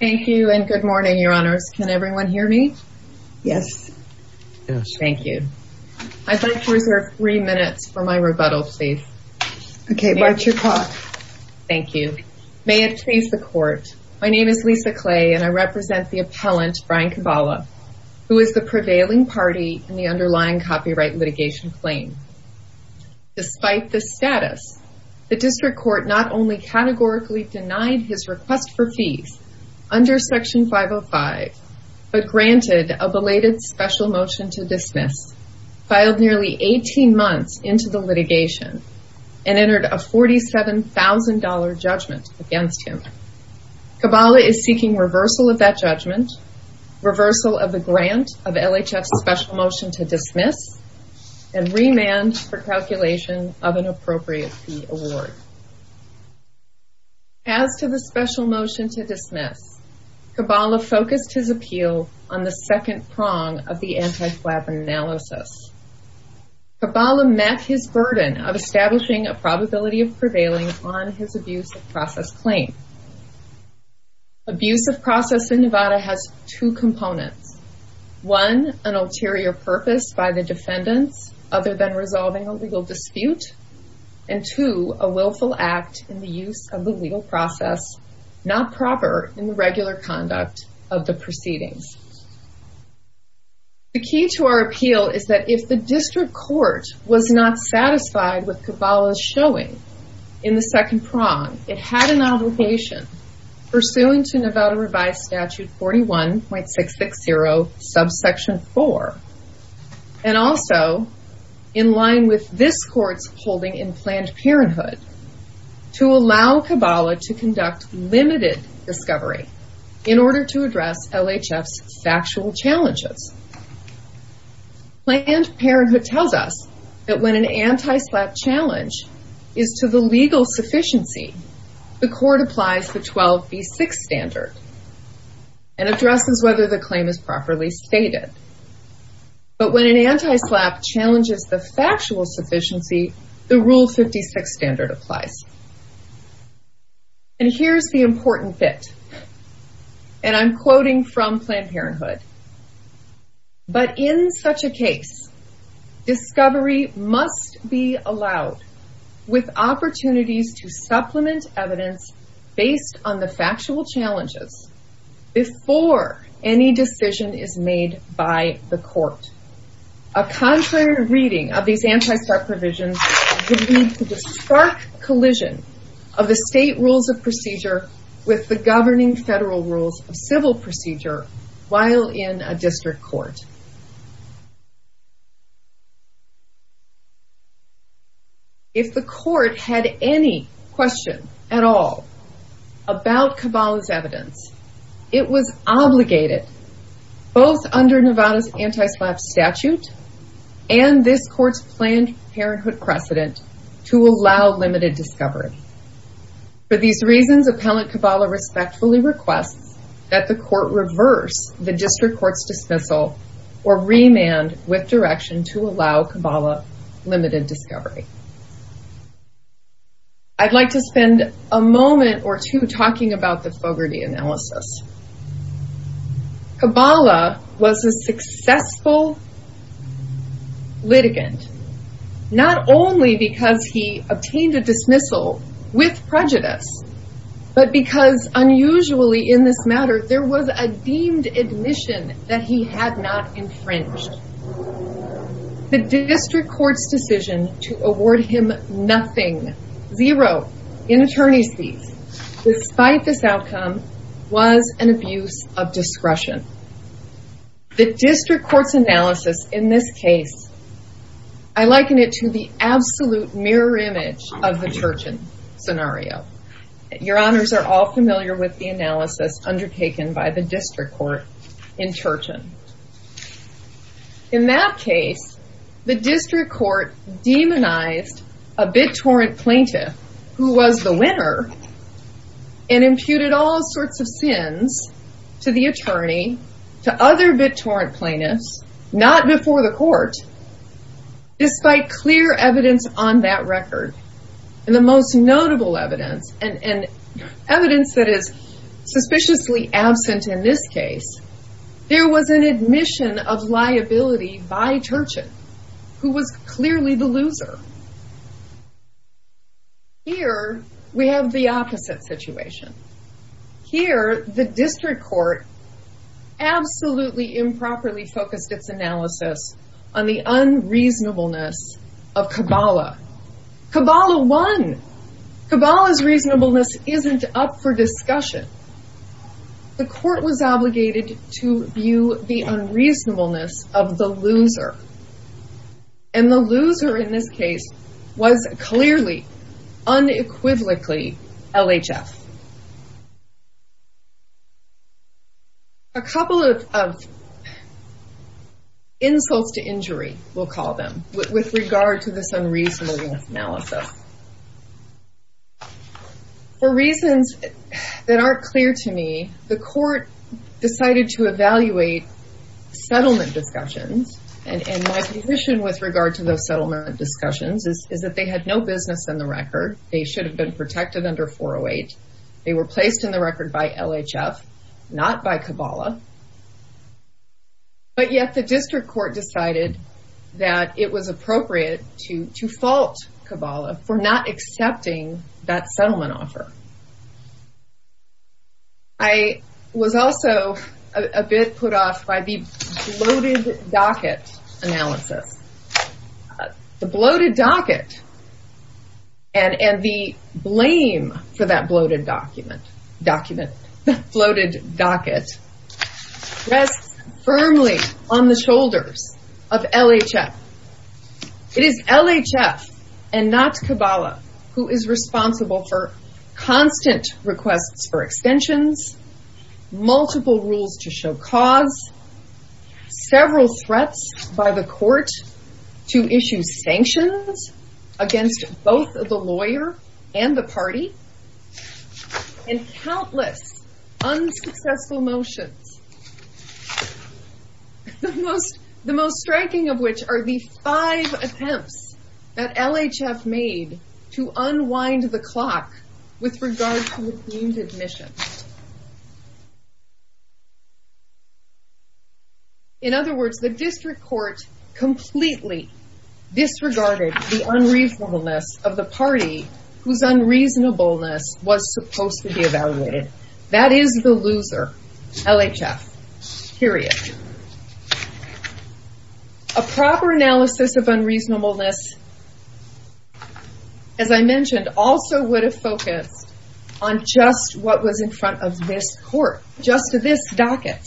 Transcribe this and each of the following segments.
Thank you and good morning, Your Honors. Can everyone hear me? Yes. Thank you. I'd like to reserve three minutes for my rebuttal, please. Okay, mark your call. Thank you. May it please the Court. My name is Lisa Clay and I represent the appellant, Brian Kabala, who is the prevailing party in the underlying copyright litigation claim. Despite the status, the District Court not only categorically denied his request for fees under Section 505, but granted a belated special motion to dismiss, filed nearly 18 months into the litigation, and entered a $47,000 judgment against him. Kabala is seeking reversal of that judgment, reversal of the grant of LHF's special motion to dismiss, and remand for calculation of an appropriate fee award. As to the special motion to dismiss, Kabala focused his appeal on the second prong of the anti-flag analysis. Kabala met his burden of establishing a probability of prevailing on his abuse of process claim. Abuse of process in Nevada has two components. One, an ulterior purpose by the defendants, other than resolving a legal dispute. And two, a willful act in the use of the legal process, not proper in the regular conduct of the proceedings. The key to our appeal is that if the District Court was not satisfied with Kabala's showing in the second prong, it had an obligation pursuant to Nevada Revised Statute 41.660, subsection 4. And also, in line with this court's holding in Planned Parenthood, to allow Kabala to conduct limited discovery in order to address LHF's factual challenges. Planned Parenthood tells us that when an anti-slap challenge is to the legal sufficiency, the court applies the 12b6 standard, and addresses whether the claim is properly stated. But when an anti-slap challenges the factual sufficiency, the Rule 56 standard applies. And here's the important bit. And I'm quoting from Planned Parenthood. But in such a case, discovery must be allowed with opportunities to supplement evidence based on the factual challenges before any decision is made by the court. A contrary reading of these anti-slap provisions would lead to the stark collision of the state rules of procedure with the governing federal rules of civil procedure while in a District Court. If the court had any question at all about Kabala's evidence, it was obligated both under Nevada's anti-slap statute and this court's Planned Parenthood precedent to allow limited discovery. For these reasons, Appellant Kabala respectfully requests that the court reverse the District Court's dismissal or remand with direction to allow Kabala limited discovery. I'd like to spend a moment or two talking about the Fogarty analysis. Kabala was a successful litigant, not only because he obtained a dismissal with prejudice, but because unusually in this matter, there was a deemed admission that he had not infringed. The District Court's decision to award him nothing, zero in attorney's income was an abuse of discretion. The District Court's analysis in this case, I liken it to the absolute mirror image of the Turchin scenario. Your honors are all familiar with the analysis undertaken by the District Court in Turchin. In that case, the District Court demonized a BitTorrent plaintiff who was the winner and imputed all sorts of sins to the attorney, to other BitTorrent plaintiffs, not before the court, despite clear evidence on that record. And the most notable evidence and evidence that is suspiciously absent in this case, there was an admission of liability by Turchin, who was clearly the loser. Here, we have the opposite situation. Here, the District Court absolutely improperly focused its analysis on the unreasonableness of Kabala. Kabala won. Kabala's reasonableness isn't up for discussion. The court was obligated to view the unreasonableness of the loser. And the loser in this case was clearly, unequivocally, LHF. A couple of insults to injury, we'll call them, with regard to this unreasonable analysis. For reasons that aren't clear to me, the court decided to evaluate settlement discussions. And my position with regard to those settlement discussions is that they had no business in the record. They should have been protected under 408. They were placed in the record by LHF, not by Kabala. But yet, the District Court decided that it was appropriate to fault Kabala for not accepting that settlement offer. I was also a bit put off by the bloated docket analysis. The bloated docket and the blame for that bloated document, document, bloated docket, rests firmly on the shoulders of LHF. It is LHF and not Kabala who is responsible for causing this constant requests for extensions, multiple rules to show cause, several threats by the court to issue sanctions against both the lawyer and the party, and countless unsuccessful motions. The most striking of which are the five attempts that LHF made to unwind the clock with regard to the deemed admission. In other words, the District Court completely disregarded the unreasonableness of the party whose unreasonableness was supposed to be evaluated. That is the loser, LHF, period. A proper analysis of unreasonableness, as I mentioned, also would have focused on just what was in front of this court, just this docket.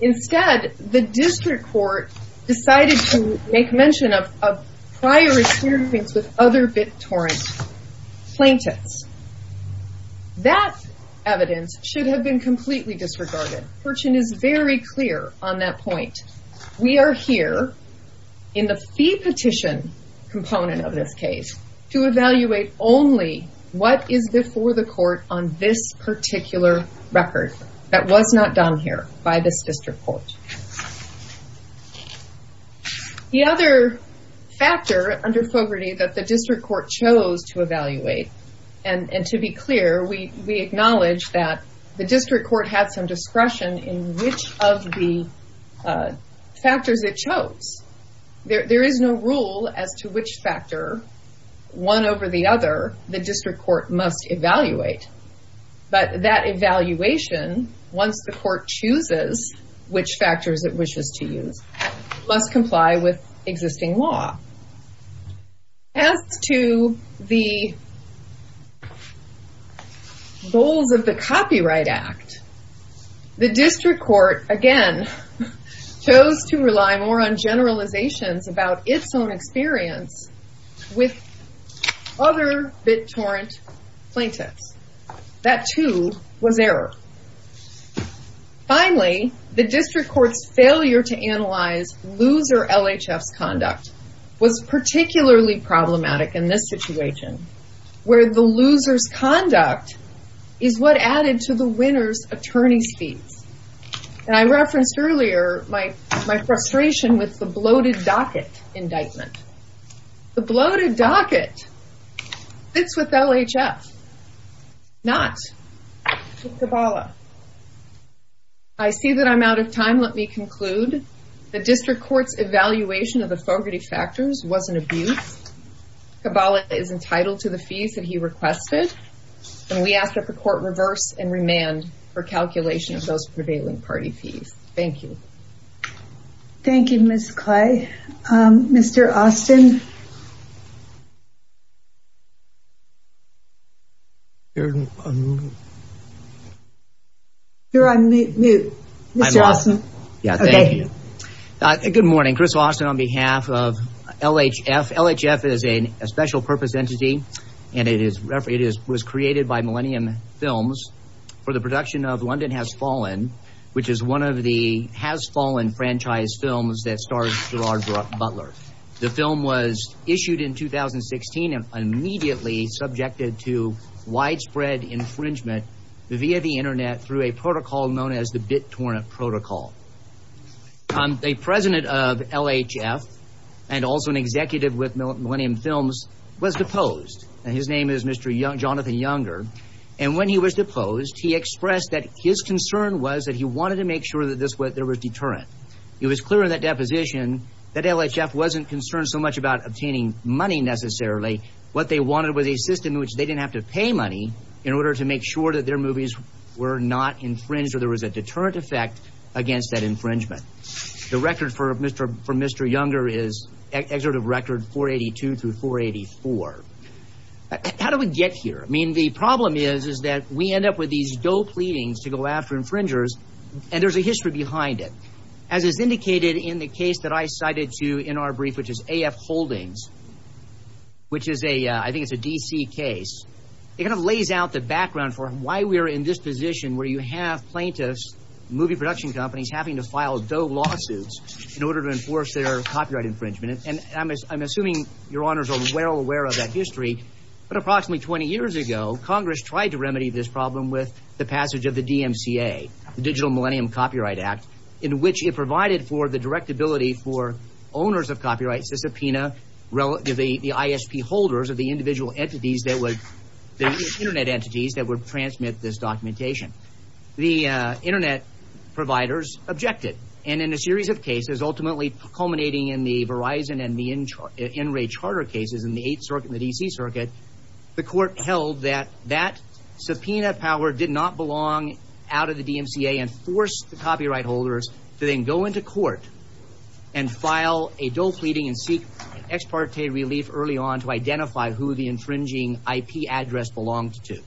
Instead, the District Court decided to make mention of prior experience with other BitTorrent plaintiffs. That evidence should have been completely disregarded. Furchin is very clear on that point. We are here in the fee petition component of this case to evaluate only what is before the court on this particular record that was not done here by this District Court. The other factor under Fogarty that the District Court chose to evaluate, and to be clear, we acknowledge that the District Court had some discretion in which of the factors it chose. There is no rule as to which factor, one over the other, the District Court must evaluate. But that evaluation, once the court chooses which factors it wishes to use, must comply with existing law. As to the goals of the Copyright Act, the District Court, again, chose to rely more on generalizations about its own experience with other BitTorrent plaintiffs. That, too, was error. Finally, the District Court's failure to analyze loser LHF's conduct was particularly problematic in this situation, where the loser's conduct is what added to the winner's attorney's fees. I referenced earlier my frustration with the bloated docket indictment. The bloated docket fits with LHF, not with Kabbalah. I see that I'm out of time. Let me conclude. The District Court's evaluation of the Fogarty factors was an abuse. Kabbalah is entitled to the fees that he requested, and we ask that the court reverse and remand for calculation of those prevailing party fees. Thank you. Thank you, Ms. Clay. Mr. Austin. You're on mute. Mr. Austin. Yeah, thank you. Good morning, Chris Austin on behalf of LHF. LHF is a special purpose entity, and it was created by Millennium Films for the production of London Has Fallen, which is one of the Has Fallen franchise films that stars Gerard Butler. The film was issued in 2016 and immediately subjected to widespread infringement via the Internet through a protocol known as the BitTorrent protocol. A president of LHF and also an executive with Millennium Films was deposed. His name is Mr. Jonathan Younger, and when he was deposed, he expressed that his concern was that he wanted to make sure that there was deterrent. It was clear in that deposition that LHF wasn't concerned so much about obtaining money necessarily. What they wanted was a system in which they didn't have to pay money in order to make sure that their movies were not infringed or there was a deterrent effect against that infringement. The record for Mr. Younger is excerpt of record 482 through 484. How do we get here? I mean, the problem is, is that we end up with these dope pleadings to go after infringers, and there's a history behind it. As is indicated in the case that I cited to in our brief, which is AF Holdings, which is a, I think it's a DC case. It kind of lays out the background for why we are in this position where you have plaintiffs, movie production companies having to file dope lawsuits in order to enforce their copyright infringement, and I'm assuming your honors are well aware of that history, but approximately 20 years ago, Congress tried to remedy this problem with the passage of the DMCA, the Digital Millennium Copyright Act, in which it provided for the directability for owners of copyrights to subpoena relatively the ISP holders of the individual entities that would, the Internet entities that would transmit this documentation. The Internet providers objected, and in a series of cases, ultimately culminating in the Verizon and the Enray Charter cases in the 8th Circuit and the DC Circuit, the court held that that subpoena power did not belong out of the DMCA and forced the copyright holders to then go into court and file a dope pleading and seek ex parte relief early on to identify who the infringing IP address belonged to.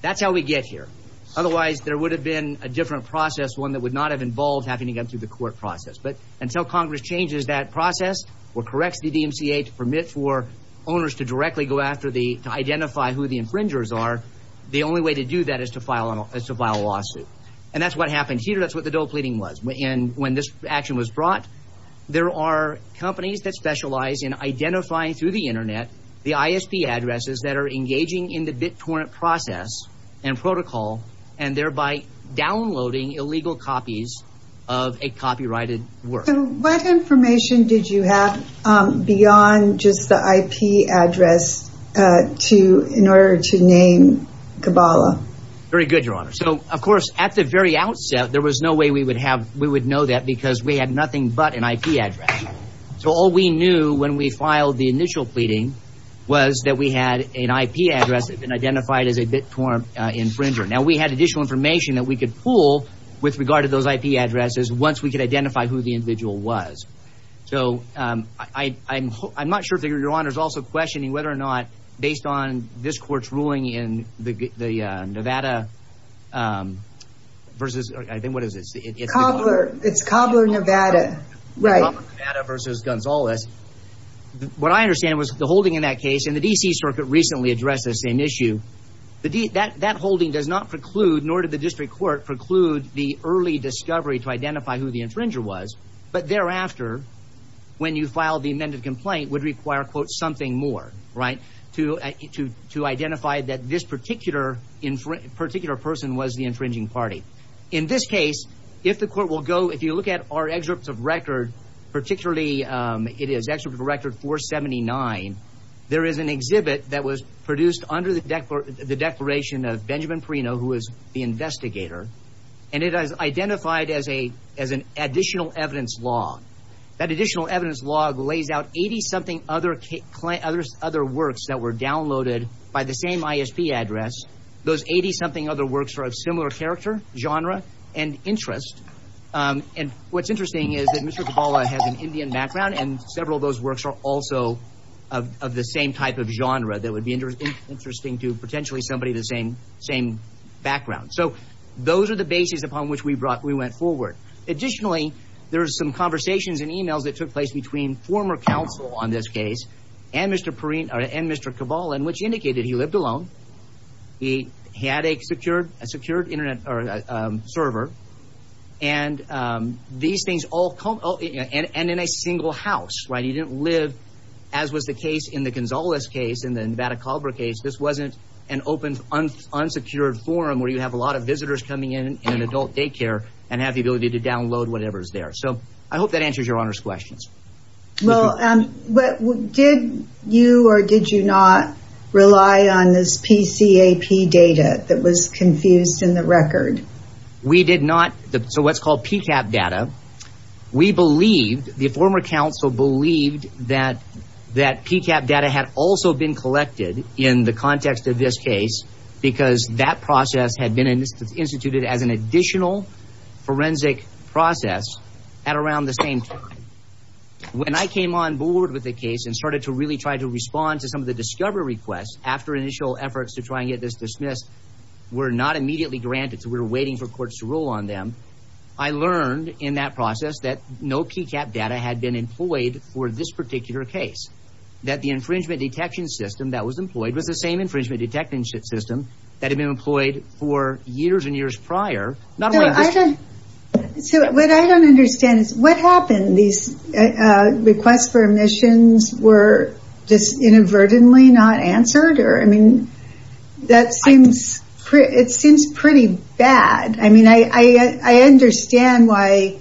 That's how we get here. Otherwise, there would have been a different process, one that would not have involved having to go through the court process. But until Congress changes that process or corrects the DMCA to permit for owners to directly go after the, to identify who the infringers are, the only way to do that is to file a lawsuit. And that's what happened here. That's what the dope pleading was, and when this action was brought, there are companies that specialize in identifying through the Internet, the ISP addresses that are engaging in the BitTorrent process and protocol, and thereby downloading illegal copies of a copyrighted work. So what information did you have beyond just the IP address to, in order to name Kabbalah? Very good, Your Honor. So, of course, at the very outset, there was no way we would have, we would know that because we had nothing but an IP address. So all we knew when we filed the initial pleading was that we had an IP address that had been identified as a BitTorrent infringer. Now, we had additional information that we could pull with regard to those IP addresses once we could identify who the individual was. So, I'm not sure if Your Honor is also questioning whether or not based on this court's ruling in the Nevada versus, I think, what is it? It's Kabbalah, Nevada, right. Kabbalah, Nevada versus Gonzales. What I understand was the holding in that case, and the D.C. Circuit recently addressed this same issue, that holding does not preclude, nor did the district court preclude, the early discovery to identify who the infringer was, but thereafter, when you filed the amended complaint, would require, quote, something more, right, to identify that this particular person was the infringing party. In this case, if the court will go, if you look at our excerpts of record, particularly, it is excerpt of record 479, there is an exhibit that was produced under the declaration of Benjamin Perino, who is the investigator, and it is identified as an additional evidence log. That additional evidence log lays out 80-something other works that were downloaded by the same ISP address. Those 80-something other works are of similar character, genre, and interest, and what's interesting is that Mr. Kabbalah has an Indian background, and several of those works are also of the same type of genre that would be interesting to potentially somebody of the same background. So those are the bases upon which we went forward. Additionally, there are some conversations and emails that took place between former counsel on this case and Mr. Kabbalah, which indicated he lived alone, he had a secured Internet server, and these things all, and in a single house, right? He didn't live, as was the case in the Gonzales case and the Nevada Culver case, this wasn't an open, unsecured forum where you have a lot of visitors coming in in an adult daycare and have the ability to download whatever is there. So I hope that answers Your Honor's questions. Well, did you or did you not rely on this PCAP data that was confused in the record? We did not. So what's called PCAP data, we believed, the former counsel believed that PCAP data had also been collected in the context of this case because that process had been instituted as an additional forensic process at around the same time. When I came on board with the case and started to really try to respond to some of the discovery requests after initial efforts to try and get this dismissed were not immediately granted, so we were waiting for courts to rule on them, I learned in that process that no PCAP data had been employed for this particular case, that the infringement detection system that was employed was the same infringement detection system that had been employed for years and years prior. So what I don't understand is what happened? These requests for omissions were just inadvertently not answered? I mean, that seems pretty bad. I mean, I understand why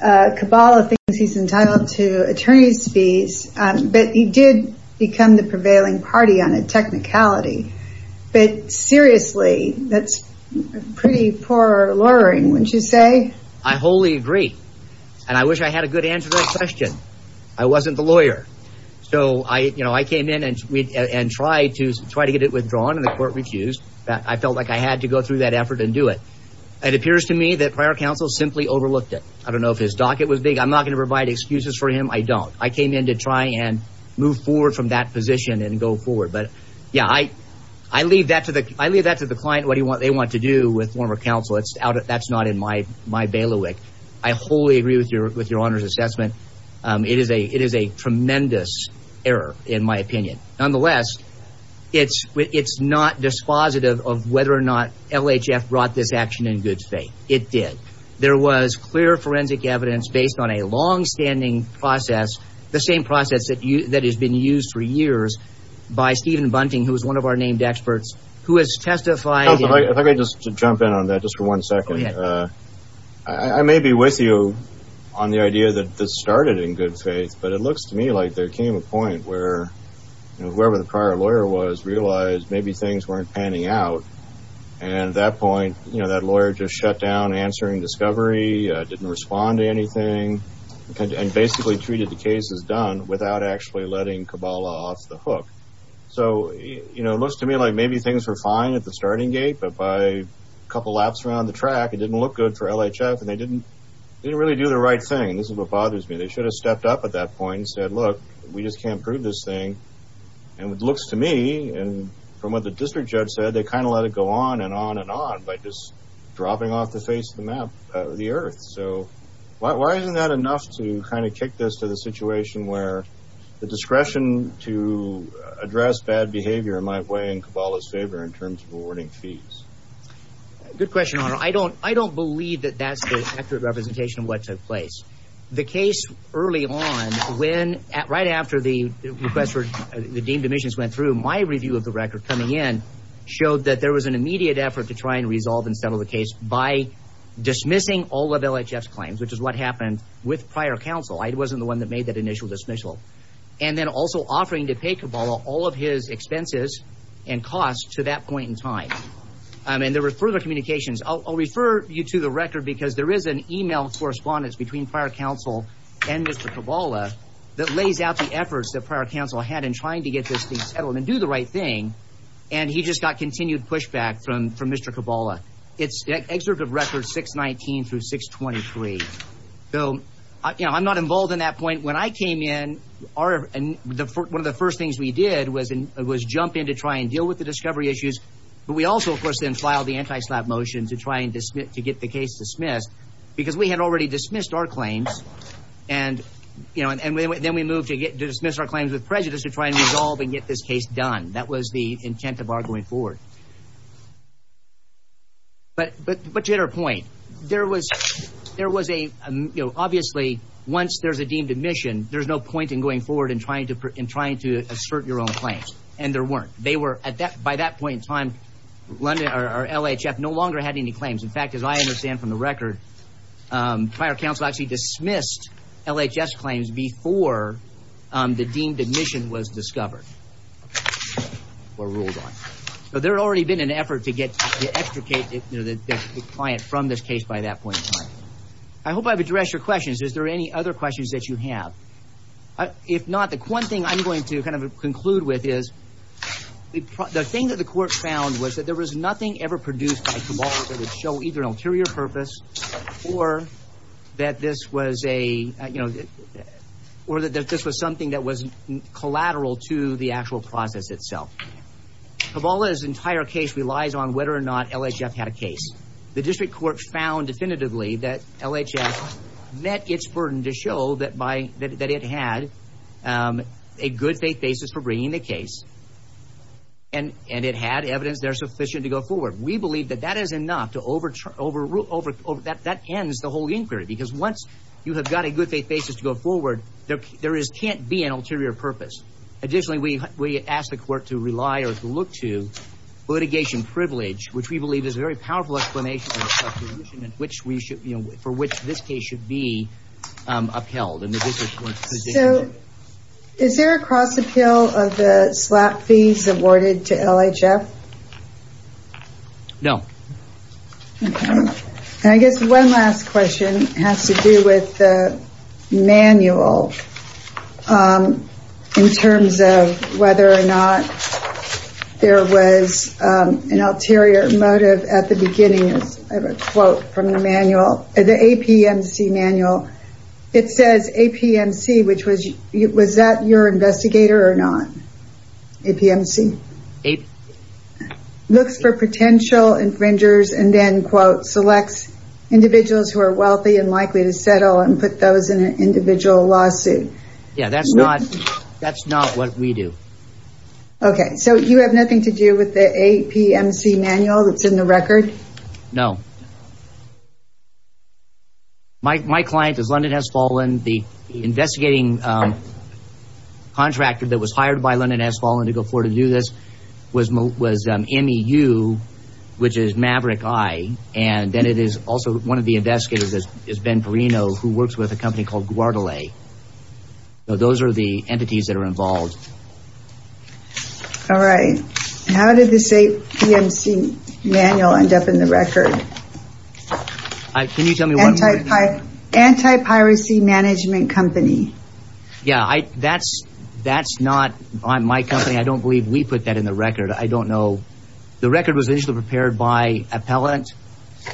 Cabala thinks he's entitled to attorney's fees, but he did become the prevailing party on a technicality. But seriously, that's pretty poor lawyering, wouldn't you say? I wholly agree. And I wish I had a good answer to that question. I wasn't the lawyer. So I came in and tried to get it withdrawn, and the court refused. I felt like I had to go through that effort and do it. It appears to me that prior counsel simply overlooked it. I don't know if his docket was big. I'm not going to provide excuses for him. I don't. I came in to try and move forward from that position and go forward. But, yeah, I leave that to the client, what they want to do with former counsel. That's not in my bailiwick. I wholly agree with your Honor's assessment. It is a tremendous error, in my opinion. Nonetheless, it's not dispositive of whether or not LHF brought this action in good faith. It did. There was clear forensic evidence based on a longstanding process, the same process that has been used for years by Stephen Bunting, who is one of our named experts, who has testified. If I could just jump in on that just for one second. Go ahead. I may be with you on the idea that this started in good faith, but it looks to me like there came a point where whoever the prior lawyer was realized maybe things weren't panning out. And at that point, you know, that lawyer just shut down answering discovery, didn't respond to anything, and basically treated the case as done without actually letting Kabbalah off the hook. So, you know, it looks to me like maybe things were fine at the starting gate, but by a couple laps around the track, it didn't look good for LHF, and they didn't really do the right thing. And this is what bothers me. They should have stepped up at that point and said, look, we just can't prove this thing. And it looks to me, and from what the district judge said, they kind of let it go on and on and on by just dropping off the face of the map, the earth. So why isn't that enough to kind of kick this to the situation where the discretion to address bad behavior might weigh in Kabbalah's favor in terms of awarding fees? Good question, Honor. I don't believe that that's the accurate representation of what took place. The case early on, right after the request for the deemed omissions went through, my review of the record coming in showed that there was an immediate effort to try and resolve and settle the case by dismissing all of LHF's claims, which is what happened with prior counsel. I wasn't the one that made that initial dismissal. And then also offering to pay Kabbalah all of his expenses and costs to that point in time. And there were further communications. I'll refer you to the record because there is an email correspondence between prior counsel and Mr. Kabbalah that lays out the efforts that prior counsel had in trying to get this thing settled and do the right thing, and he just got continued pushback from Mr. Kabbalah. It's excerpt of records 619 through 623. So, you know, I'm not involved in that point. When I came in, one of the first things we did was jump in to try and deal with the discovery issues. But we also, of course, then filed the anti-SLAPP motion to try and get the case dismissed because we had already dismissed our claims. And then we moved to dismiss our claims with prejudice to try and resolve and get this case done. That was the intent of our going forward. But to your point, there was a, you know, obviously, once there's a deemed admission, there's no point in going forward and trying to assert your own claims. And there weren't. By that point in time, LHF no longer had any claims. In fact, as I understand from the record, prior counsel actually dismissed LHF's claims before the deemed admission was discovered or ruled on. So there had already been an effort to extricate the client from this case by that point in time. I hope I've addressed your questions. Is there any other questions that you have? If not, the one thing I'm going to kind of conclude with is the thing that the court found was that there was nothing ever produced by Kabbalah that would show either an ulterior purpose or that this was something that was collateral to the actual process itself. Kabbalah's entire case relies on whether or not LHF had a case. The district court found definitively that LHF met its burden to show that it had a good faith basis for bringing the case, and it had evidence there sufficient to go forward. We believe that that is enough to overrule. That ends the whole inquiry because once you have got a good faith basis to go forward, there can't be an ulterior purpose. Additionally, we ask the court to rely or to look to litigation privilege, which we believe is a very powerful explanation for which this case should be upheld. Is there a cross appeal of the SLAP fees awarded to LHF? No. I guess one last question has to do with the manual in terms of whether or not there was an ulterior motive at the beginning. I have a quote from the APMC manual. It says APMC, which was that your investigator or not? APMC? Looks for potential infringers and then, quote, selects individuals who are wealthy and likely to settle and put those in an individual lawsuit. Yes, that's not what we do. Okay, so you have nothing to do with the APMC manual that's in the record? No. My client is London Has Fallen. The investigating contractor that was hired by London Has Fallen to go forward to do this was MEU, which is Maverick Eye, and then it is also one of the investigators is Ben Perino, who works with a company called Guadalay. Those are the entities that are involved. All right. How did this APMC manual end up in the record? Can you tell me what? Anti-piracy management company. Yeah, that's not my company. I don't believe we put that in the record. I don't know. The record was initially prepared by appellant,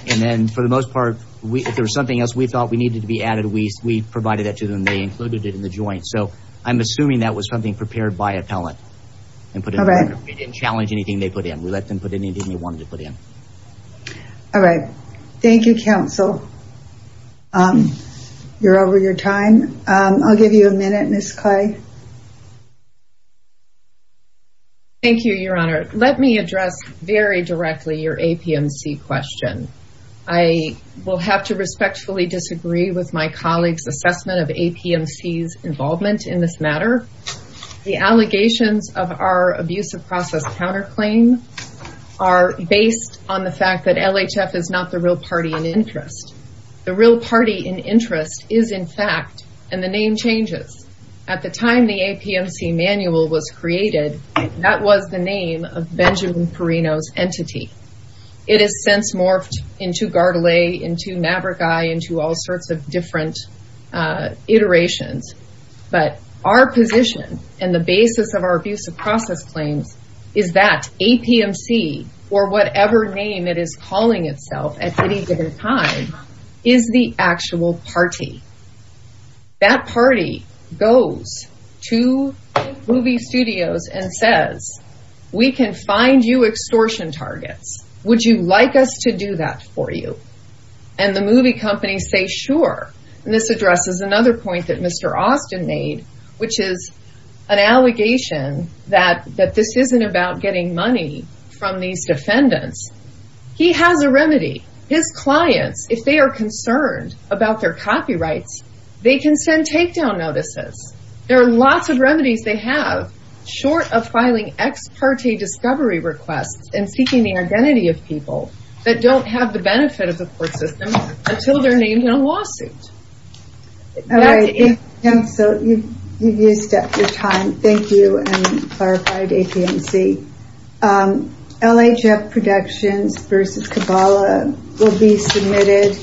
and then for the most part, if there was something else we thought we needed to be added, we provided that to them. They included it in the joint. So I'm assuming that was something prepared by appellant and put in the record. We didn't challenge anything they put in. We let them put anything they wanted to put in. All right. Thank you, counsel. You're over your time. I'll give you a minute, Ms. Clay. Thank you, Your Honor. Let me address very directly your APMC question. I will have to respectfully disagree with my colleague's assessment of APMC's involvement in this matter. The allegations of our abusive process counterclaim are based on the fact that LHF is not the real party in interest. The real party in interest is, in fact, and the name changes. At the time the APMC manual was created, that was the name of Benjamin Perino's entity. It has since morphed into Gardelais, into Navragi, into all sorts of different iterations. But our position and the basis of our abusive process claims is that APMC, or whatever name it is calling itself at any given time, is the actual party. That party goes to movie studios and says, we can find you extortion targets. Would you like us to do that for you? And the movie companies say, sure. And this addresses another point that Mr. Austin made, which is an allegation that this isn't about getting money from these defendants. He has a remedy. His clients, if they are concerned about their copyrights, they can send takedown notices. There are lots of remedies they have, short of filing ex parte discovery requests and seeking the identity of people that don't have the benefit of the court system until they're named in a lawsuit. So you've used up your time. Thank you and clarified APMC. LHF Productions v. Kabbalah will be submitted.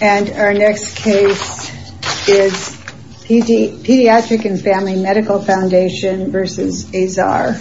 And our next case is Pediatric and Family Medical Foundation v. Azar.